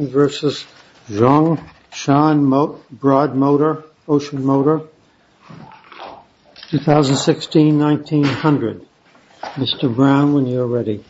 2016-1900. Mr. Brown, when you are ready.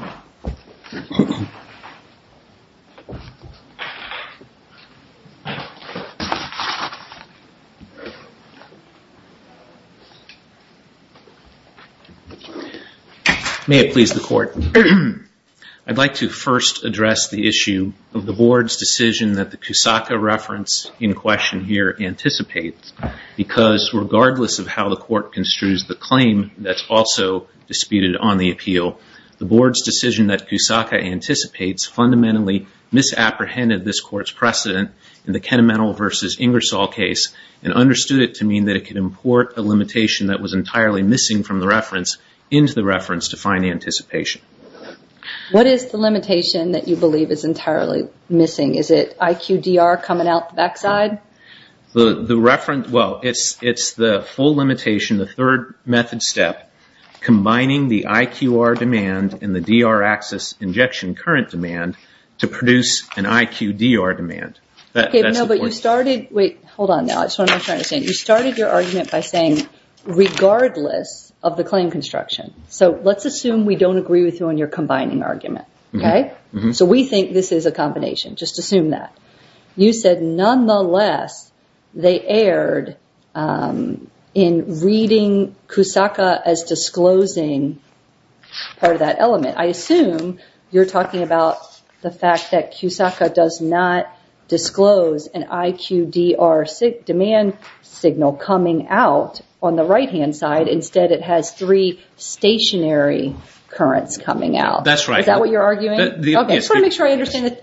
May it please the Court. I would like to first address the issue of the Board's decision that the Kusaka reference in question here anticipates, because regardless of how the Court construes the claim that's also disputed on the appeal, the Board's decision that Kusaka anticipates fundamentally misapprehended this Court's precedent in the Kennemental v. Ingersoll case and understood it to mean that it could import a limitation that was entirely missing from the reference into the reference to find anticipation. What is the limitation that you believe is entirely missing? Is it IQDR coming out the backside? Well, it's the full limitation, the third method step, combining the IQR demand and the DR axis injection current demand to produce an IQDR demand. But you started your argument by saying regardless of the claim construction. So let's assume we don't agree with you on your combining argument. So we think this is a combination. Just assume that. You said nonetheless they erred in reading Kusaka as disclosing part of that element. I assume you're talking about the fact that Kusaka does not disclose an IQDR demand signal coming out on the right-hand side. Instead, it has three stationary currents coming out. That's right. Is that what you're arguing? I just want to make sure I understand.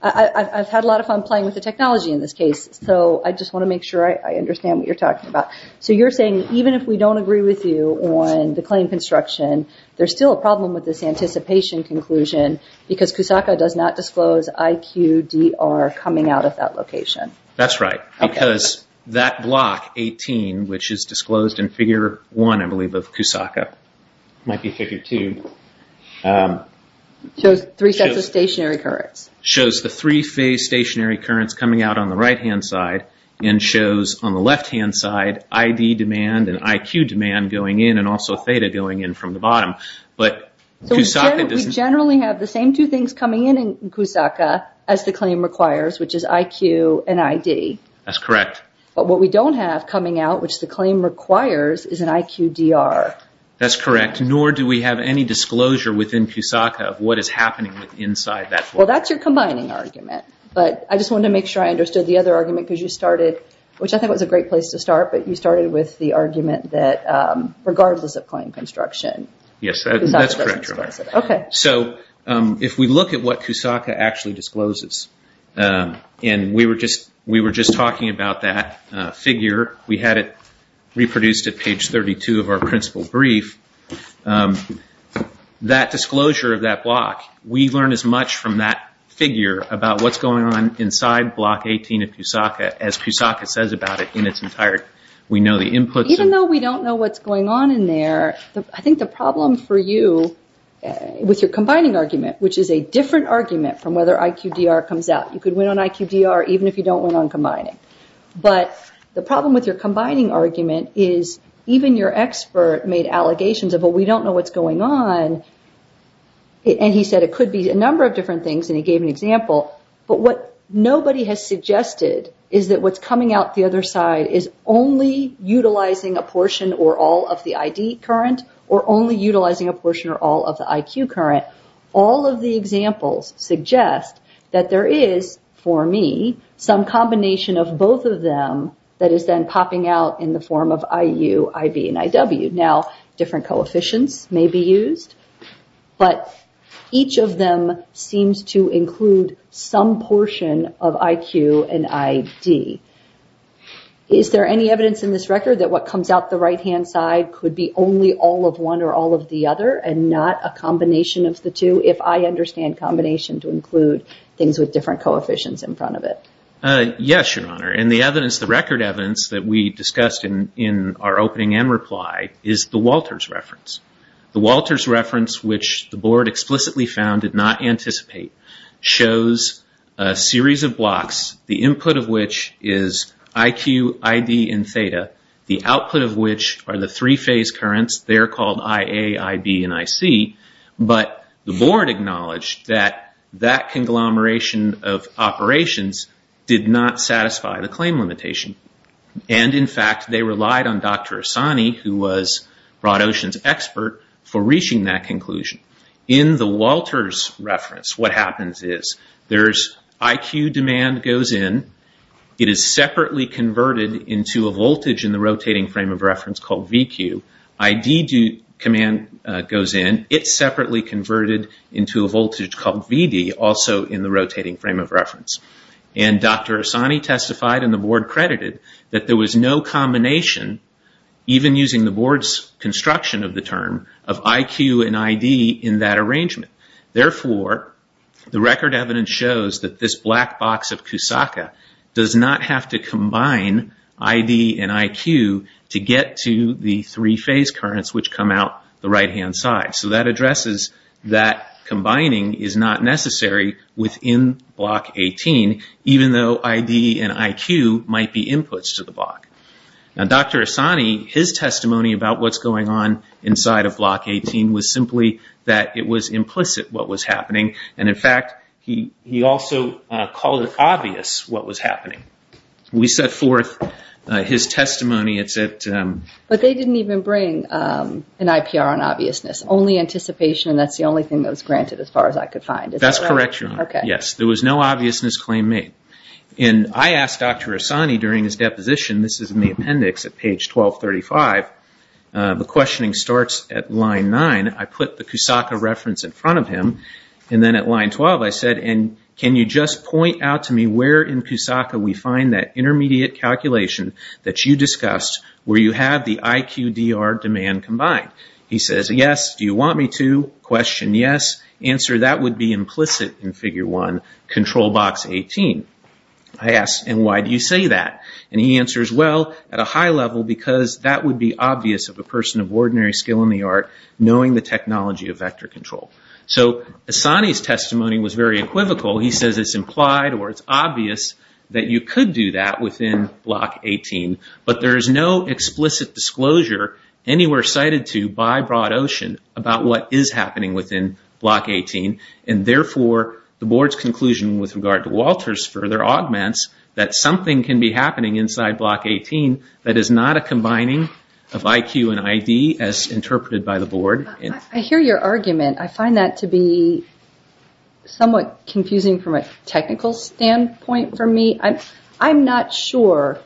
I've had a lot of fun playing with the technology in this case. So I just want to make sure I understand what you're talking about. So you're saying even if we don't agree with you on the claim construction, there's still a problem with this anticipation conclusion because Kusaka does not disclose IQDR coming out of that location. That's right. Because that block, 18, which is disclosed in figure 1, I believe, of Kusaka. Might be figure 2. Shows three sets of stationary currents. Shows the three phase stationary currents coming out on the right-hand side and shows on the left-hand side ID demand and IQ demand going in and also theta going in from the bottom. So we generally have the same two things coming in in Kusaka as the claim requires, which is IQ and ID. That's correct. But what we don't have coming out, which the claim requires, is an IQDR. That's correct, nor do we have any disclosure within Kusaka of what is happening inside that block. Well, that's your combining argument, but I just wanted to make sure I understood the other argument because you started, which I think was a great place to start, but you started with the argument that regardless of claim construction, Kusaka doesn't disclose it. Yes, that's correct. So if we look at what Kusaka actually discloses, and we were just talking about that figure. We had it reproduced at page 32 of our principal brief. That disclosure of that block, we learn as much from that figure about what's going on inside block 18 of Kusaka as Kusaka says about it in its entirety. Even though we don't know what's going on in there, I think the problem for you with your combining argument, which is a different argument from whether IQDR comes out. You could win on IQDR even if you don't win on combining. But the problem with your combining argument is even your expert made allegations of, well, we don't know what's going on. And he said it could be a number of different things, and he gave an example. But what nobody has suggested is that what's coming out the other side is only utilizing a portion or all of the ID current or only utilizing a portion or all of the IQ current. All of the examples suggest that there is, for me, some combination of both of them that is then popping out in the form of IU, IB, and IW. Now, different coefficients may be used, but each of them seems to include some portion of IQ and ID. Is there any evidence in this record that what comes out the right-hand side could be only all of one or all of the other and not a combination of the two, if I understand combination to include things with different coefficients in front of it? Yes, Your Honor. And the evidence, the record evidence that we discussed in our opening end reply is the Walters reference. The Walters reference, which the board explicitly found did not anticipate, shows a series of blocks, the input of which is IQ, ID, and theta, the output of which are the three-phase currents. They are called IA, IB, and IC. But the board acknowledged that that conglomeration of operations did not satisfy the claim limitation. And, in fact, they relied on Dr. Asani, who was BroadOcean's expert, for reaching that conclusion. In the Walters reference, what happens is IQ demand goes in. It is separately converted into a voltage in the rotating frame of reference called VQ. ID command goes in. It's separately converted into a voltage called VD, also in the rotating frame of reference. And Dr. Asani testified, and the board credited, that there was no combination, even using the board's construction of the term, of IQ and ID in that arrangement. Therefore, the record evidence shows that this black box of Kusaka does not have to combine ID and IQ to get to the three-phase currents which come out the right-hand side. So that addresses that combining is not necessary within Block 18, even though ID and IQ might be inputs to the block. Now, Dr. Asani, his testimony about what's going on inside of Block 18 was simply that it was implicit what was happening. And, in fact, he also called it obvious what was happening. We set forth his testimony. But they didn't even bring an IPR on obviousness, only anticipation, and that's the only thing that was granted as far as I could find. That's correct, Your Honor. Yes, there was no obviousness claim made. And I asked Dr. Asani during his deposition, this is in the appendix at page 1235, the questioning starts at line 9. I put the Kusaka reference in front of him, and then at line 12 I said, and can you just point out to me where in Kusaka we find that intermediate calculation that you discussed where you have the IQDR demand combined? He says, yes, do you want me to? Question, yes. Answer, that would be implicit in Figure 1, Control Box 18. I asked, and why do you say that? And he answers, well, at a high level because that would be obvious of a person of ordinary skill in the art knowing the technology of vector control. So Asani's testimony was very equivocal. He says it's implied or it's obvious that you could do that within Block 18, but there is no explicit disclosure anywhere cited to by BroadOcean about what is happening within Block 18, and therefore the Board's conclusion with regard to Walter's further augments that something can be happening inside Block 18 that is not a combining of IQ and ID as interpreted by the Board. I hear your argument. I find that to be somewhat confusing from a technical standpoint for me. I'm not sure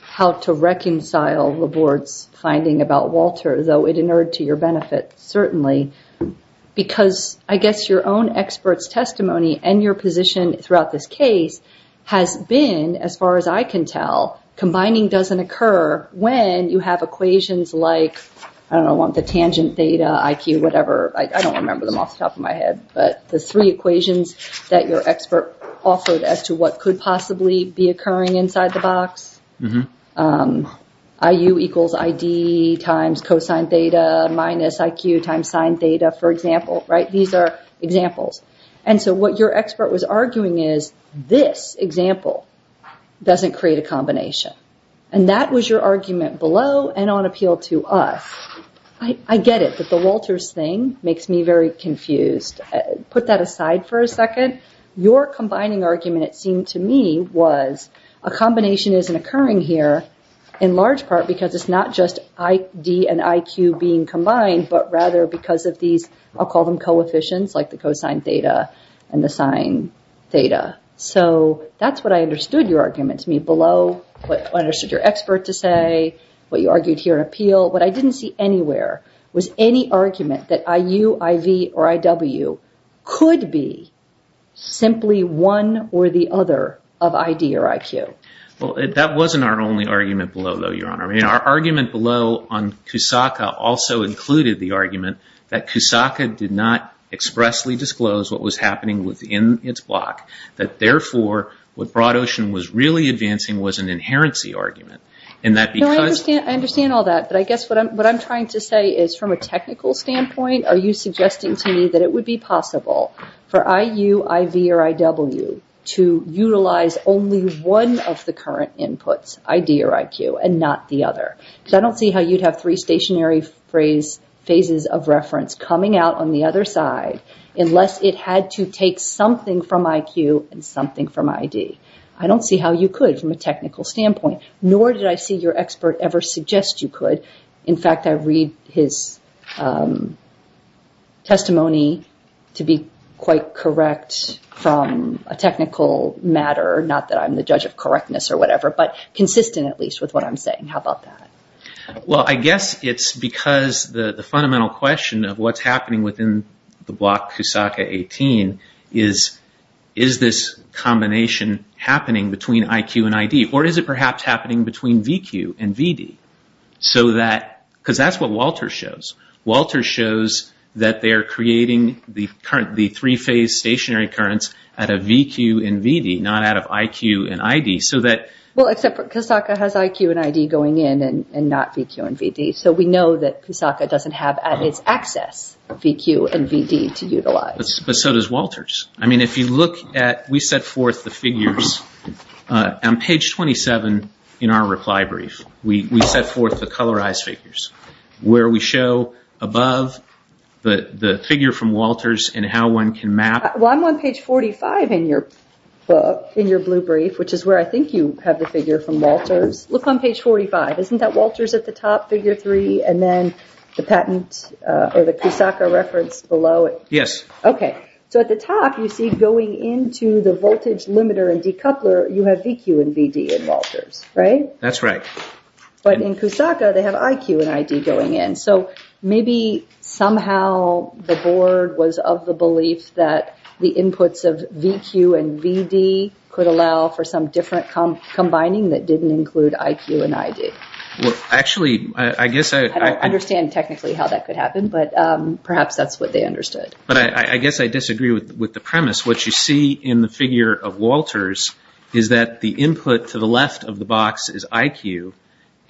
how to reconcile the Board's finding about Walter, though it inured to your benefit, certainly, because I guess your own expert's testimony and your position throughout this case has been, as far as I can tell, combining doesn't occur when you have equations like, I don't know, the tangent data, IQ, whatever. I don't remember them off the top of my head, but the three equations that your expert offered as to what could possibly be occurring inside the box, IU equals ID times cosine theta minus IQ times sine theta, for example. These are examples. And so what your expert was arguing is this example doesn't create a combination, and that was your argument below and on appeal to us. I get it that the Walter's thing makes me very confused. Put that aside for a second. Your combining argument, it seemed to me, was a combination isn't occurring here in large part because it's not just ID and IQ being combined, but rather because of these, I'll call them coefficients, like the cosine theta and the sine theta. So that's what I understood your argument to me below, what I understood your expert to say, what you argued here on appeal. What I didn't see anywhere was any argument that IU, IV, or IW could be simply one or the other of ID or IQ. Well, that wasn't our only argument below, though, Your Honor. Our argument below on CUSACA also included the argument that CUSACA did not expressly disclose what was happening within its block, that therefore what BroadOcean was really advancing was an inherency argument. I understand all that, but I guess what I'm trying to say is from a technical standpoint, are you suggesting to me that it would be possible for IU, IV, or IW to utilize only one of the current inputs, ID or IQ, and not the other? Because I don't see how you'd have three stationary phases of reference coming out on the other side unless it had to take something from IQ and something from ID. I don't see how you could from a technical standpoint, nor did I see your expert ever suggest you could. In fact, I read his testimony to be quite correct from a technical matter, not that I'm the judge of correctness or whatever, but consistent at least with what I'm saying. How about that? Well, I guess it's because the fundamental question of what's happening within the block CUSACA-18 is, is this combination happening between IQ and ID? Or is it perhaps happening between VQ and VD? Because that's what Walter shows. Walter shows that they're creating the three-phase stationary currents out of VQ and VD, not out of IQ and ID. Well, except CUSACA has IQ and ID going in and not VQ and VD. So we know that CUSACA doesn't have at its access VQ and VD to utilize. But so does Walter's. If you look at, we set forth the figures on page 27 in our reply brief. We set forth the colorized figures where we show above the figure from Walter's and how one can map. Well, I'm on page 45 in your blue brief, which is where I think you have the figure from Walter's. Look on page 45. Isn't that Walter's at the top, figure three, and then the patent or the CUSACA reference below it? Yes. Okay. So at the top, you see going into the voltage limiter and decoupler, you have VQ and VD in Walter's, right? That's right. But in CUSACA, they have IQ and ID going in. So maybe somehow the board was of the belief that the inputs of VQ and VD could allow for some different combining that didn't include IQ and ID. Well, actually, I guess I- I don't understand technically how that could happen, but perhaps that's what they understood. But I guess I disagree with the premise. What you see in the figure of Walter's is that the input to the left of the box is IQ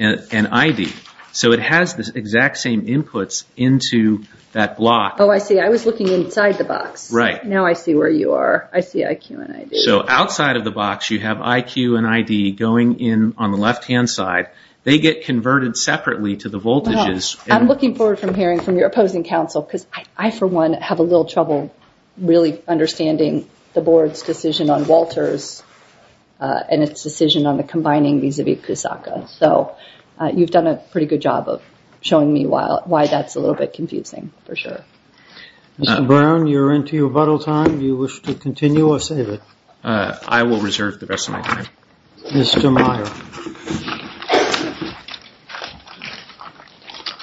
and ID. So it has the exact same inputs into that block. Oh, I see. I was looking inside the box. Right. Now I see where you are. I see IQ and ID. So outside of the box, you have IQ and ID going in on the left-hand side. They get converted separately to the voltages. I'm looking forward to hearing from your opposing counsel because I, for one, have a little trouble really understanding the board's decision on Walter's and its decision on the combining vis-a-vis CUSACA. So you've done a pretty good job of showing me why that's a little bit confusing, for sure. Mr. Brown, you're into your rebuttal time. Do you wish to continue or save it? I will reserve the rest of my time. Mr. Meyer.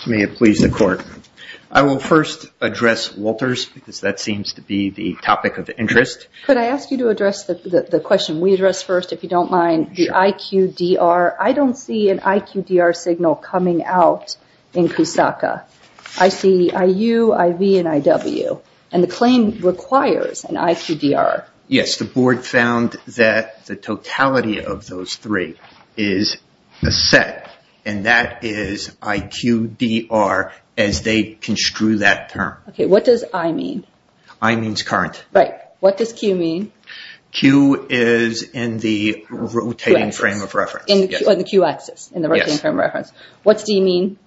May it please the Court. I will first address Walter's because that seems to be the topic of interest. Could I ask you to address the question we addressed first, if you don't mind? Sure. I see IQ, DR. I don't see an IQ, DR signal coming out in CUSACA. I see IU, IV, and IW, and the claim requires an IQ, DR. Yes. The board found that the totality of those three is a set, and that is IQ, DR as they construe that term. Okay. What does I mean? I means current. Right. What does Q mean? Q is in the rotating frame of reference. In the Q axis, in the rotating frame of reference. What's D mean?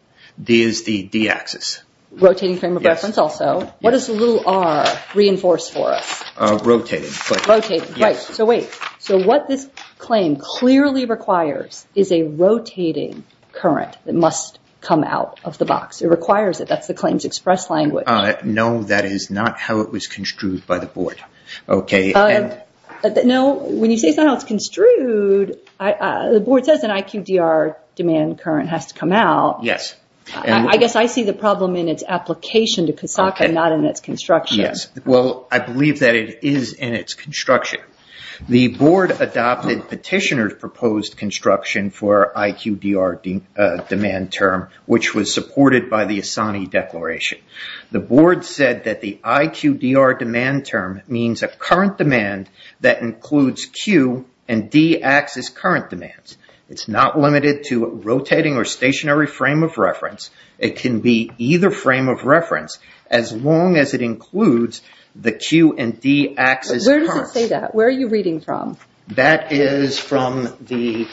D is the D axis. Rotating frame of reference also. What does the little R reinforce for us? Rotating. Rotating. Right. So wait. So what this claim clearly requires is a rotating current that must come out of the box. It requires it. That's the claim's express language. No, that is not how it was construed by the board. Okay. No, when you say it's not how it's construed, the board says an IQ, DR demand current has to come out. Yes. I guess I see the problem in its application to CUSACA, not in its construction. Yes. Well, I believe that it is in its construction. The board adopted petitioner's proposed construction for IQ, DR demand term, which was supported by the ASANI declaration. The board said that the IQ, DR demand term means a current demand that includes Q and D axis current demands. It's not limited to rotating or stationary frame of reference. It can be either frame of reference as long as it includes the Q and D axis currents. Where does it say that? Where are you reading from? That is from the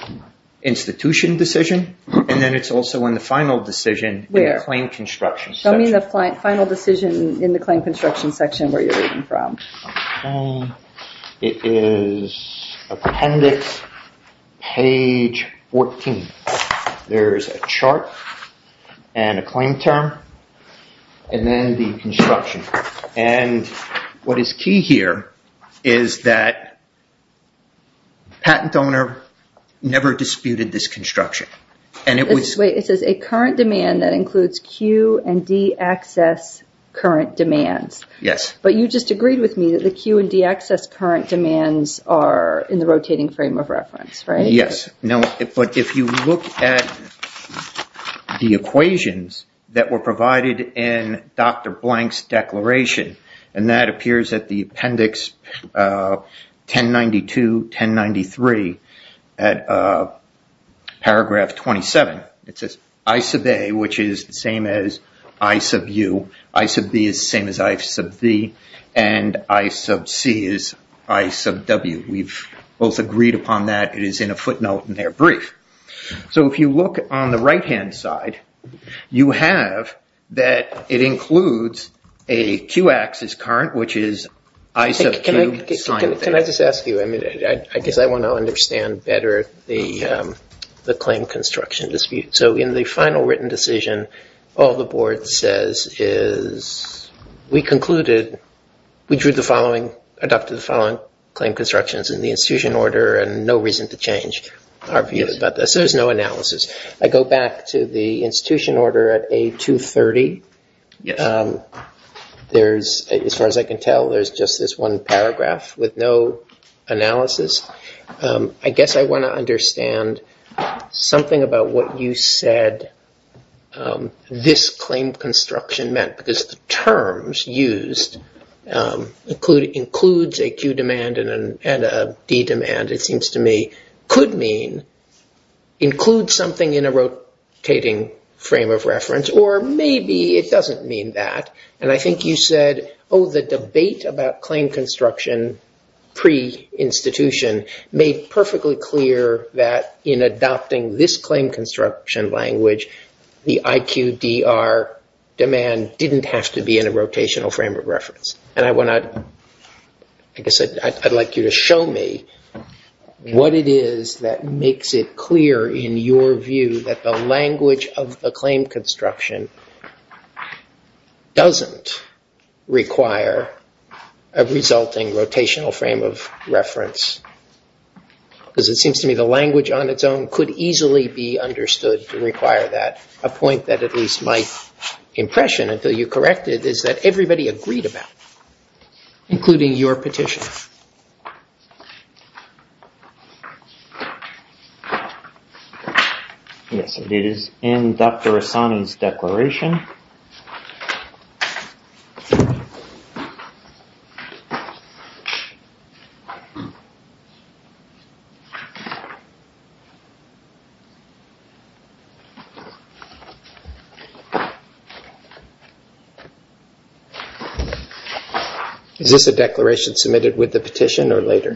institution decision, and then it's also in the final decision in the claim construction section. Show me the final decision in the claim construction section where you're reading from. Okay. It is appendix page 14. There's a chart and a claim term, and then the construction. And what is key here is that patent owner never disputed this construction. It says a current demand that includes Q and D axis current demands. Yes. But you just agreed with me that the Q and D axis current demands are in the rotating frame of reference, right? Yes. But if you look at the equations that were provided in Dr. Blank's declaration, and that appears at the appendix 1092, 1093 at paragraph 27. It says I sub A, which is the same as I sub U. I sub B is the same as I sub V, and I sub C is I sub W. We've both agreed upon that. It is in a footnote in their brief. So if you look on the right-hand side, you have that it includes a Q axis current, which is I sub Q. Can I just ask you? I mean, I guess I want to understand better the claim construction dispute. So in the final written decision, all the board says is we concluded, we drew the following, adopted the following claim constructions in the institution order, and no reason to change our view about this. There's no analysis. I go back to the institution order at A230. Yes. As far as I can tell, there's just this one paragraph with no analysis. I guess I want to understand something about what you said this claim construction meant, because the terms used includes a Q demand and a D demand, it seems to me, could mean include something in a rotating frame of reference, or maybe it doesn't mean that. And I think you said, oh, the debate about claim construction pre-institution made perfectly clear that in adopting this claim construction language, the IQDR demand didn't have to be in a rotational frame of reference. And I want to, I guess I'd like you to show me what it is that makes it clear in your view that the language of the claim construction doesn't require a resulting rotational frame of reference, because it seems to me the language on its own could easily be understood to require that, a point that at least my impression, until you correct it, is that everybody agreed about, including your petition. Yes, it is in Dr. Assani's declaration. Is this a declaration submitted with the petition or later?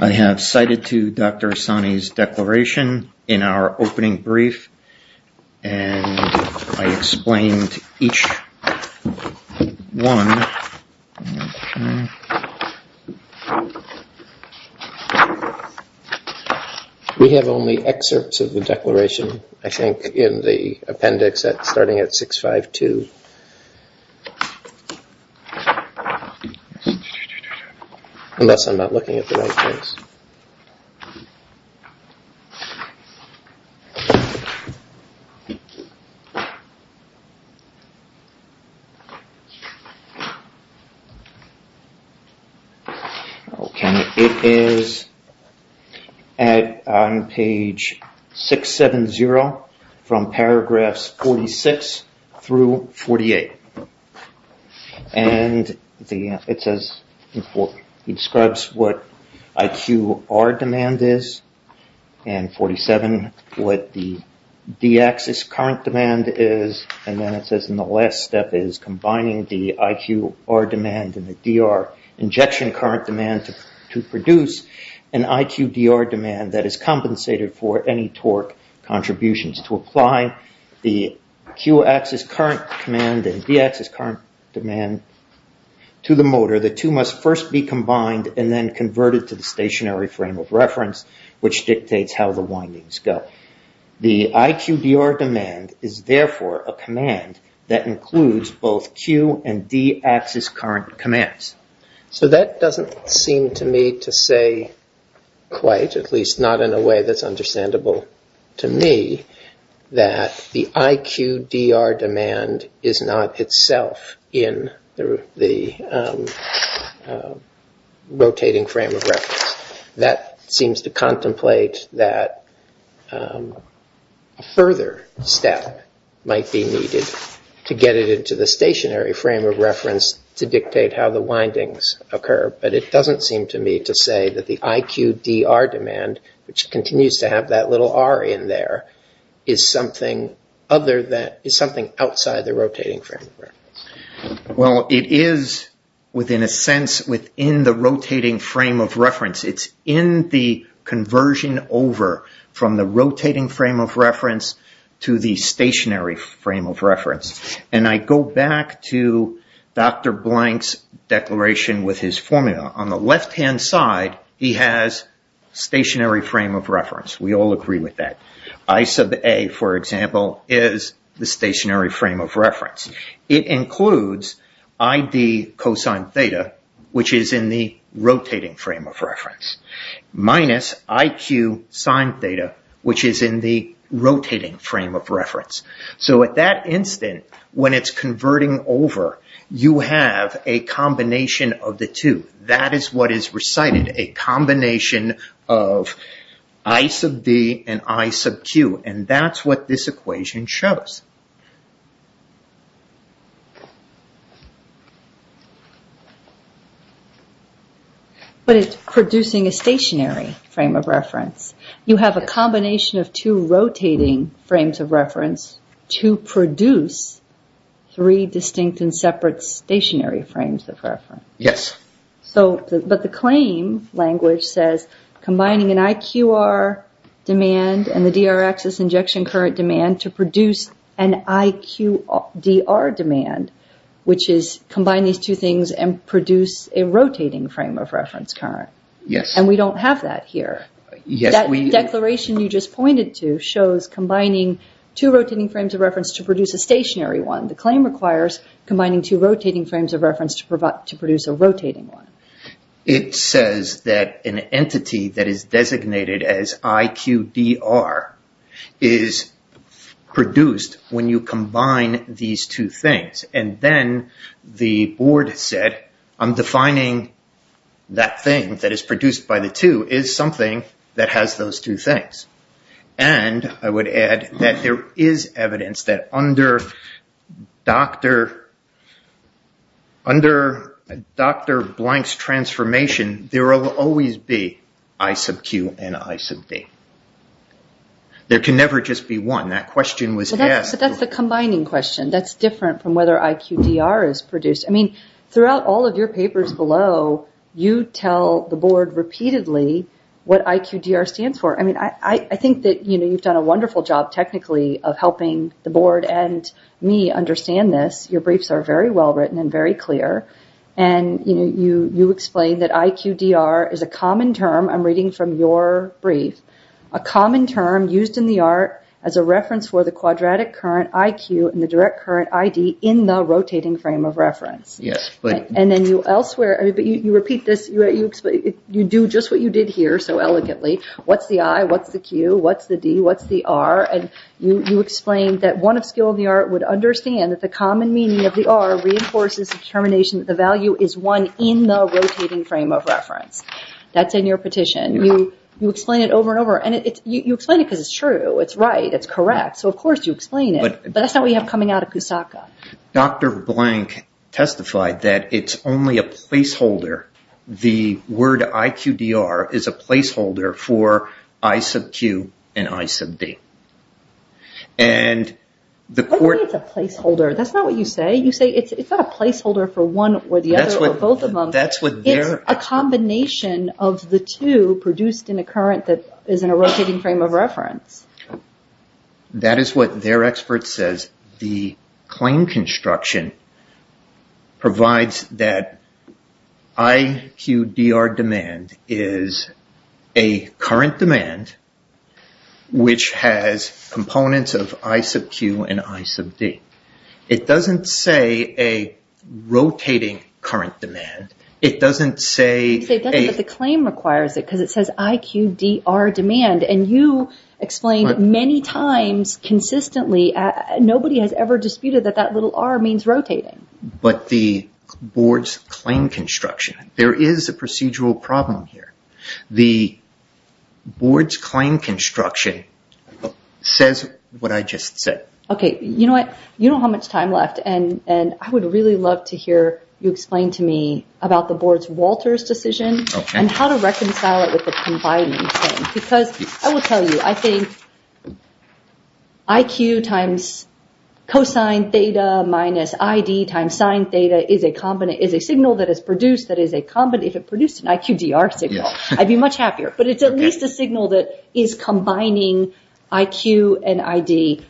I have cited to Dr. Assani's declaration in our opening brief, and I explained each one. We have only excerpts of the declaration, I think, in the appendix starting at 652. Unless I'm not looking at the right place. Okay, it is on page 670 from paragraphs 46 through 48. And it says, it describes what IQR demand is, and 47 what the D-axis current demand is, and then it says, and the last step is combining the IQR demand and the DR injection current demand to produce an IQDR demand that is compensated for any torque contributions. To apply the Q-axis current demand and the D-axis current demand to the motor, the two must first be combined and then converted to the stationary frame of reference, which dictates how the windings go. The IQDR demand is therefore a command that includes both Q and D-axis current commands. So that doesn't seem to me to say quite, at least not in a way that's understandable to me, that the IQDR demand is not itself in the rotating frame of reference. That seems to contemplate that a further step might be needed to get it into the stationary frame of reference to dictate how the windings occur. But it doesn't seem to me to say that the IQDR demand, which continues to have that little R in there, is something outside the rotating frame of reference. Well, it is within a sense within the rotating frame of reference. It's in the conversion over from the rotating frame of reference to the stationary frame of reference. And I go back to Dr. Blank's declaration with his formula. On the left-hand side, he has stationary frame of reference. We all agree with that. I sub A, for example, is the stationary frame of reference. It includes ID cosine theta, which is in the rotating frame of reference, minus IQ sine theta, which is in the rotating frame of reference. So at that instant, when it's converting over, you have a combination of the two. That is what is recited, a combination of I sub D and I sub Q. And that's what this equation shows. But it's producing a stationary frame of reference. You have a combination of two rotating frames of reference to produce three distinct and separate stationary frames of reference. But the claim language says combining an IQR demand and the DR axis injection current demand to produce an IQDR demand, which is combine these two things and produce a rotating frame of reference current. And we don't have that here. That declaration you just pointed to shows combining two rotating frames of reference to produce a stationary one. The claim requires combining two rotating frames of reference to produce a rotating one. It says that an entity that is designated as IQDR is produced when you combine these two things. And then the board said, I'm defining that thing that is produced by the two is something that has those two things. And I would add that there is evidence that under Dr. Blank's transformation, there will always be I sub Q and I sub D. There can never just be one. That's the combining question. That's different from whether IQDR is produced. Throughout all of your papers below, you tell the board repeatedly what IQDR stands for. I think that you've done a wonderful job technically of helping the board and me understand this. Your briefs are very well written and very clear. And you explain that IQDR is a common term. I'm reading from your brief. A common term used in the art as a reference for the quadratic current IQ and the direct current ID in the rotating frame of reference. You repeat this. You do just what you did here so elegantly. What's the I? What's the Q? What's the D? What's the R? And you explain that one of skill in the art would understand that the common meaning of the R reinforces the determination that the value is one in the rotating frame of reference. That's in your petition. You explain it over and over. And you explain it because it's true. It's right. It's correct. So, of course, you explain it. But that's not what you have coming out of Kusaka. Dr. Blank testified that it's only a placeholder. The word IQDR is a placeholder for I sub Q and I sub D. I don't think it's a placeholder. That's not what you say. You say it's not a placeholder for one or the other or both of them. It's a combination of the two produced in a current that is in a rotating frame of reference. That is what their expert says. The claim construction provides that IQDR demand is a current demand which has components of I sub Q and I sub D. It doesn't say a rotating current demand. It doesn't say... It doesn't, but the claim requires it because it says IQDR demand. And you explained many times consistently nobody has ever disputed that that little R means rotating. But the board's claim construction, there is a procedural problem here. The board's claim construction says what I just said. Okay. You know what? You know how much time left. And I would really love to hear you explain to me about the board's Walters decision and how to reconcile it with the combining thing. Because I will tell you, I think IQ times cosine theta minus ID times sine theta is a signal that is produced that is a... If it produced an IQDR signal, I'd be much happier. But it's at least a signal that is combining IQ and ID.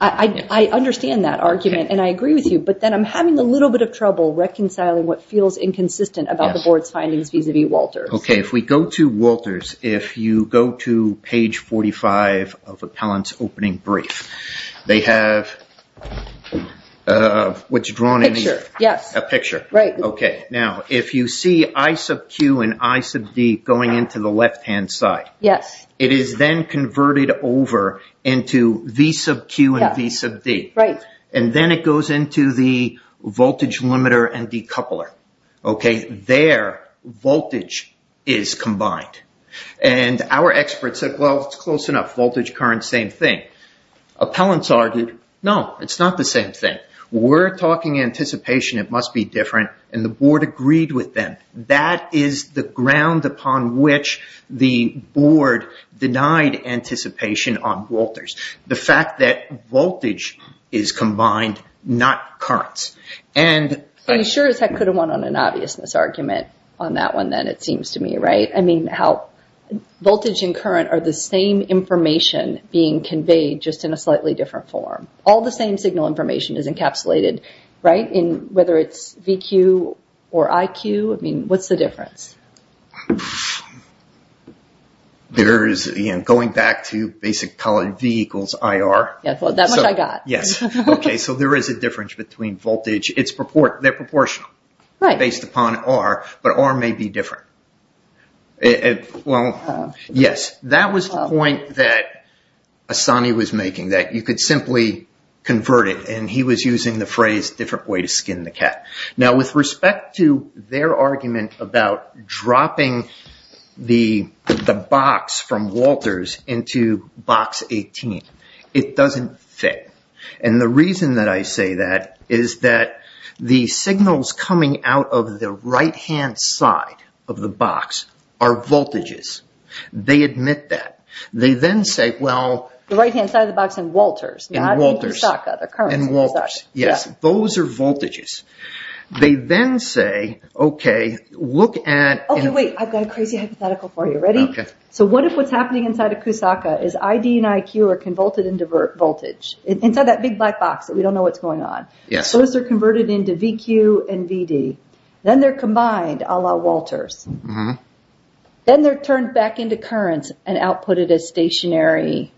I understand that argument and I agree with you. But then I'm having a little bit of trouble reconciling what feels inconsistent about the board's findings vis-a-vis Walters. Okay. If we go to Walters, if you go to page 45 of Appellant's opening brief, they have what's drawn in here. A picture. Yes. A picture. Right. Okay. Now, if you see I sub Q and I sub D going into the left-hand side. Yes. It is then converted over into V sub Q and V sub D. Right. And then it goes into the voltage limiter and decoupler. Okay. And then they say their voltage is combined. And our experts said, well, it's close enough. Voltage, current, same thing. Appellant's argued, no, it's not the same thing. We're talking anticipation. It must be different. And the board agreed with them. That is the ground upon which the board denied anticipation on Walters. The fact that voltage is combined, not currents. So you sure as heck could have won on an obvious misargument on that one then, it seems to me. Right? I mean, voltage and current are the same information being conveyed, just in a slightly different form. All the same signal information is encapsulated. Right? Whether it's VQ or IQ. I mean, what's the difference? There is, again, going back to basic column V equals IR. That much I got. Yes. Okay. So there is a difference between voltage. They're proportional. Right. Based upon R. But R may be different. Well, yes. That was the point that Assani was making, that you could simply convert it. And he was using the phrase, different way to skin the cat. Now, with respect to their argument about dropping the box from Walters into box 18, it doesn't fit. And the reason that I say that is that the signals coming out of the right-hand side of the box are voltages. They admit that. They then say, well... The right-hand side of the box in Walters. In Walters. Not in Kusaka. The currents in Kusaka. In Walters. Yes. Those are voltages. They then say, okay, look at... Okay, wait. I've got a crazy hypothetical for you. Ready? Okay. So what if what's happening inside of Kusaka is ID and IQ are convolted into voltage? Inside that big black box that we don't know what's going on. Yes. Those are converted into VQ and VD. Then they're combined, a la Walters. Then they're turned back into currents and outputted as stationary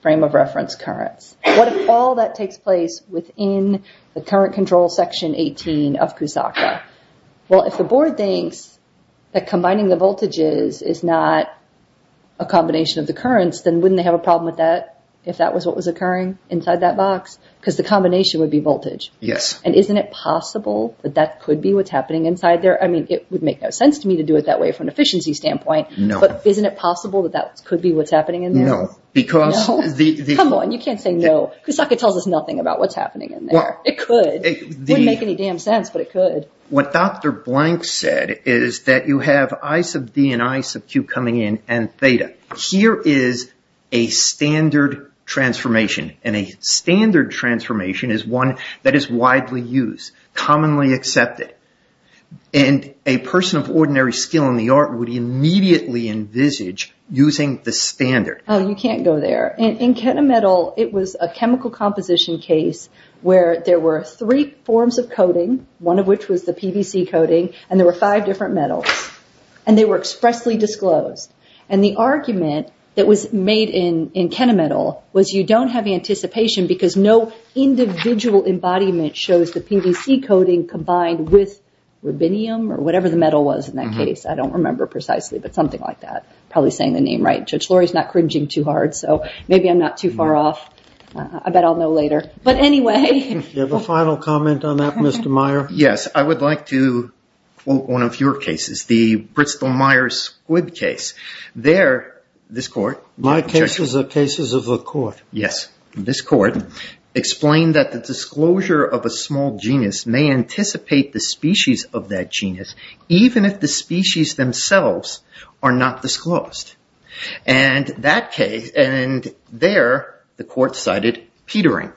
frame of reference currents. What if all that takes place within the current control section 18 of Kusaka? Well, if the board thinks that combining the voltages is not a combination of the currents, then wouldn't they have a problem with that if that was what was occurring inside that box? Because the combination would be voltage. Yes. And isn't it possible that that could be what's happening inside there? I mean, it would make no sense to me to do it that way from an efficiency standpoint. No. But isn't it possible that that could be what's happening in there? No. Because... No? Come on. You can't say no. Kusaka tells us nothing about what's happening in there. It could. It wouldn't make any damn sense, but it could. What Dr. Blank said is that you have I sub D and I sub Q coming in and theta. Here is a standard transformation. And a standard transformation is one that is widely used, commonly accepted. And a person of ordinary skill in the art would immediately envisage using the standard. Oh, you can't go there. In Kenna Metal, it was a chemical composition case where there were three forms of coating, one of which was the PVC coating, and there were five different metals. And they were expressly disclosed. And the argument that was made in Kenna Metal was you don't have anticipation because no individual embodiment shows the PVC coating combined with rubinium or whatever the metal was in that case. I don't remember precisely, but something like that. Probably saying the name right. George Laurie is not cringing too hard, so maybe I'm not too far off. I bet I'll know later. But anyway. Do you have a final comment on that, Mr. Meyer? Yes. I would like to quote one of your cases, the Bristol-Myers-Squid case. There, this court. My cases are cases of the court. Yes. This court explained that the disclosure of a small genus may anticipate the species of that genus, even if the species themselves are not disclosed. And there, the court cited Petering.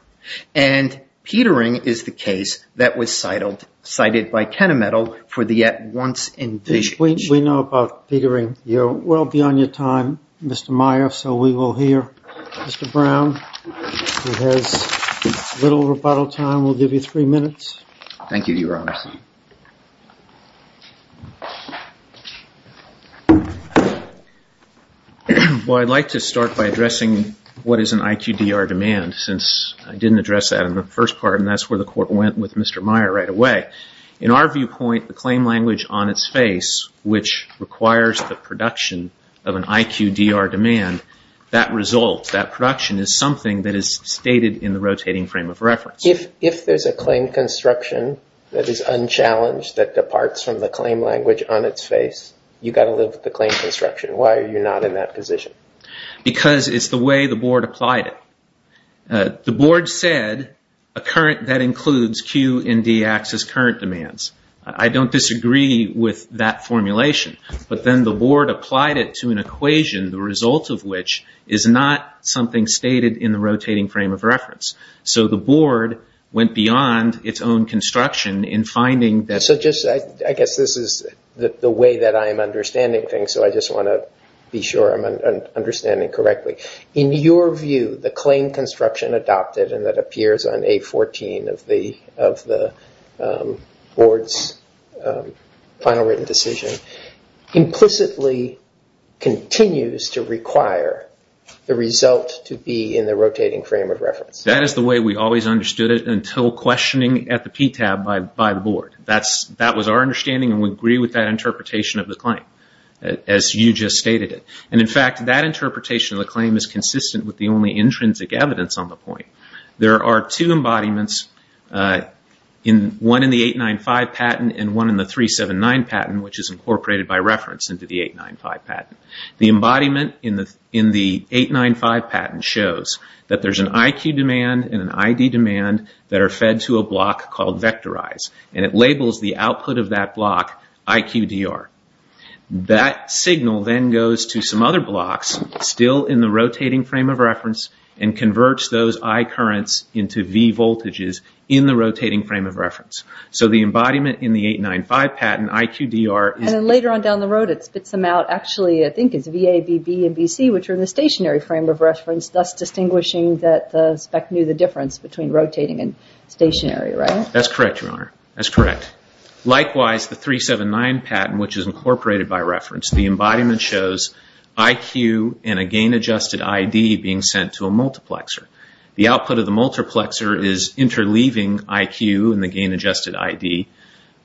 And Petering is the case that was cited by Kenna Metal for the at-once indication. We know about Petering. You're well beyond your time, Mr. Meyer, so we will hear Mr. Brown. He has little rebuttal time. We'll give you three minutes. Thank you, Your Honor. Well, I'd like to start by addressing what is an IQDR demand, since I didn't address that in the first part, and that's where the court went with Mr. Meyer right away. In our viewpoint, the claim language on its face, which requires the production of an IQDR demand, that result, that production, is something that is stated in the rotating frame of reference. If there's a claim construction that is unchallenged, that departs from the claim language on its face, you've got to live with the claim construction. Why are you not in that position? Because it's the way the board applied it. The board said a current that includes Q and D-axis current demands. I don't disagree with that formulation, but then the board applied it to an equation, the result of which is not something stated in the rotating frame of reference. So the board went beyond its own construction in finding that- So just, I guess this is the way that I am understanding things, so I just want to be sure I'm understanding correctly. In your view, the claim construction adopted, and that appears on A14 of the board's final written decision, implicitly continues to require the result to be in the rotating frame of reference. That is the way we always understood it, until questioning at the PTAB by the board. That was our understanding, and we agree with that interpretation of the claim, as you just stated it. In fact, that interpretation of the claim is consistent with the only intrinsic evidence on the point. There are two embodiments, one in the 895 patent and one in the 379 patent, which is incorporated by reference into the 895 patent. The embodiment in the 895 patent shows that there's an IQ demand and an ID demand that are fed to a block called vectorize, and it labels the output of that block IQDR. That signal then goes to some other blocks, still in the rotating frame of reference, and converts those I currents into V voltages in the rotating frame of reference. So the embodiment in the 895 patent, IQDR... And then later on down the road, it spits them out, actually, I think it's VA, BB, and BC, which are in the stationary frame of reference, thus distinguishing that the spec knew the difference between rotating and stationary, right? That's correct, Your Honor. That's correct. Likewise, the 379 patent, which is incorporated by reference, the embodiment shows IQ and a gain-adjusted ID being sent to a multiplexer. The output of the multiplexer is interleaving IQ and the gain-adjusted ID,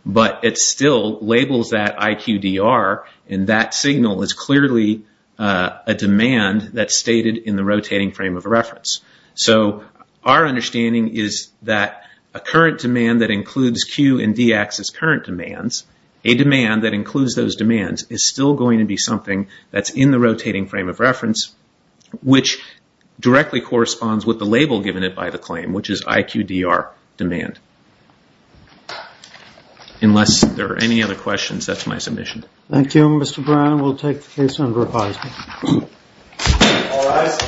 but it still labels that IQDR, and that signal is clearly a demand that's stated in the rotating frame of reference. So our understanding is that a current demand that includes Q and DX as current demands, a demand that includes those demands, is still going to be something that's in the rotating frame of reference, which directly corresponds with the label given it by the claim, which is IQDR demand. Unless there are any other questions, that's my submission. Thank you, Mr. Brown. We'll take the case under repository. All rise.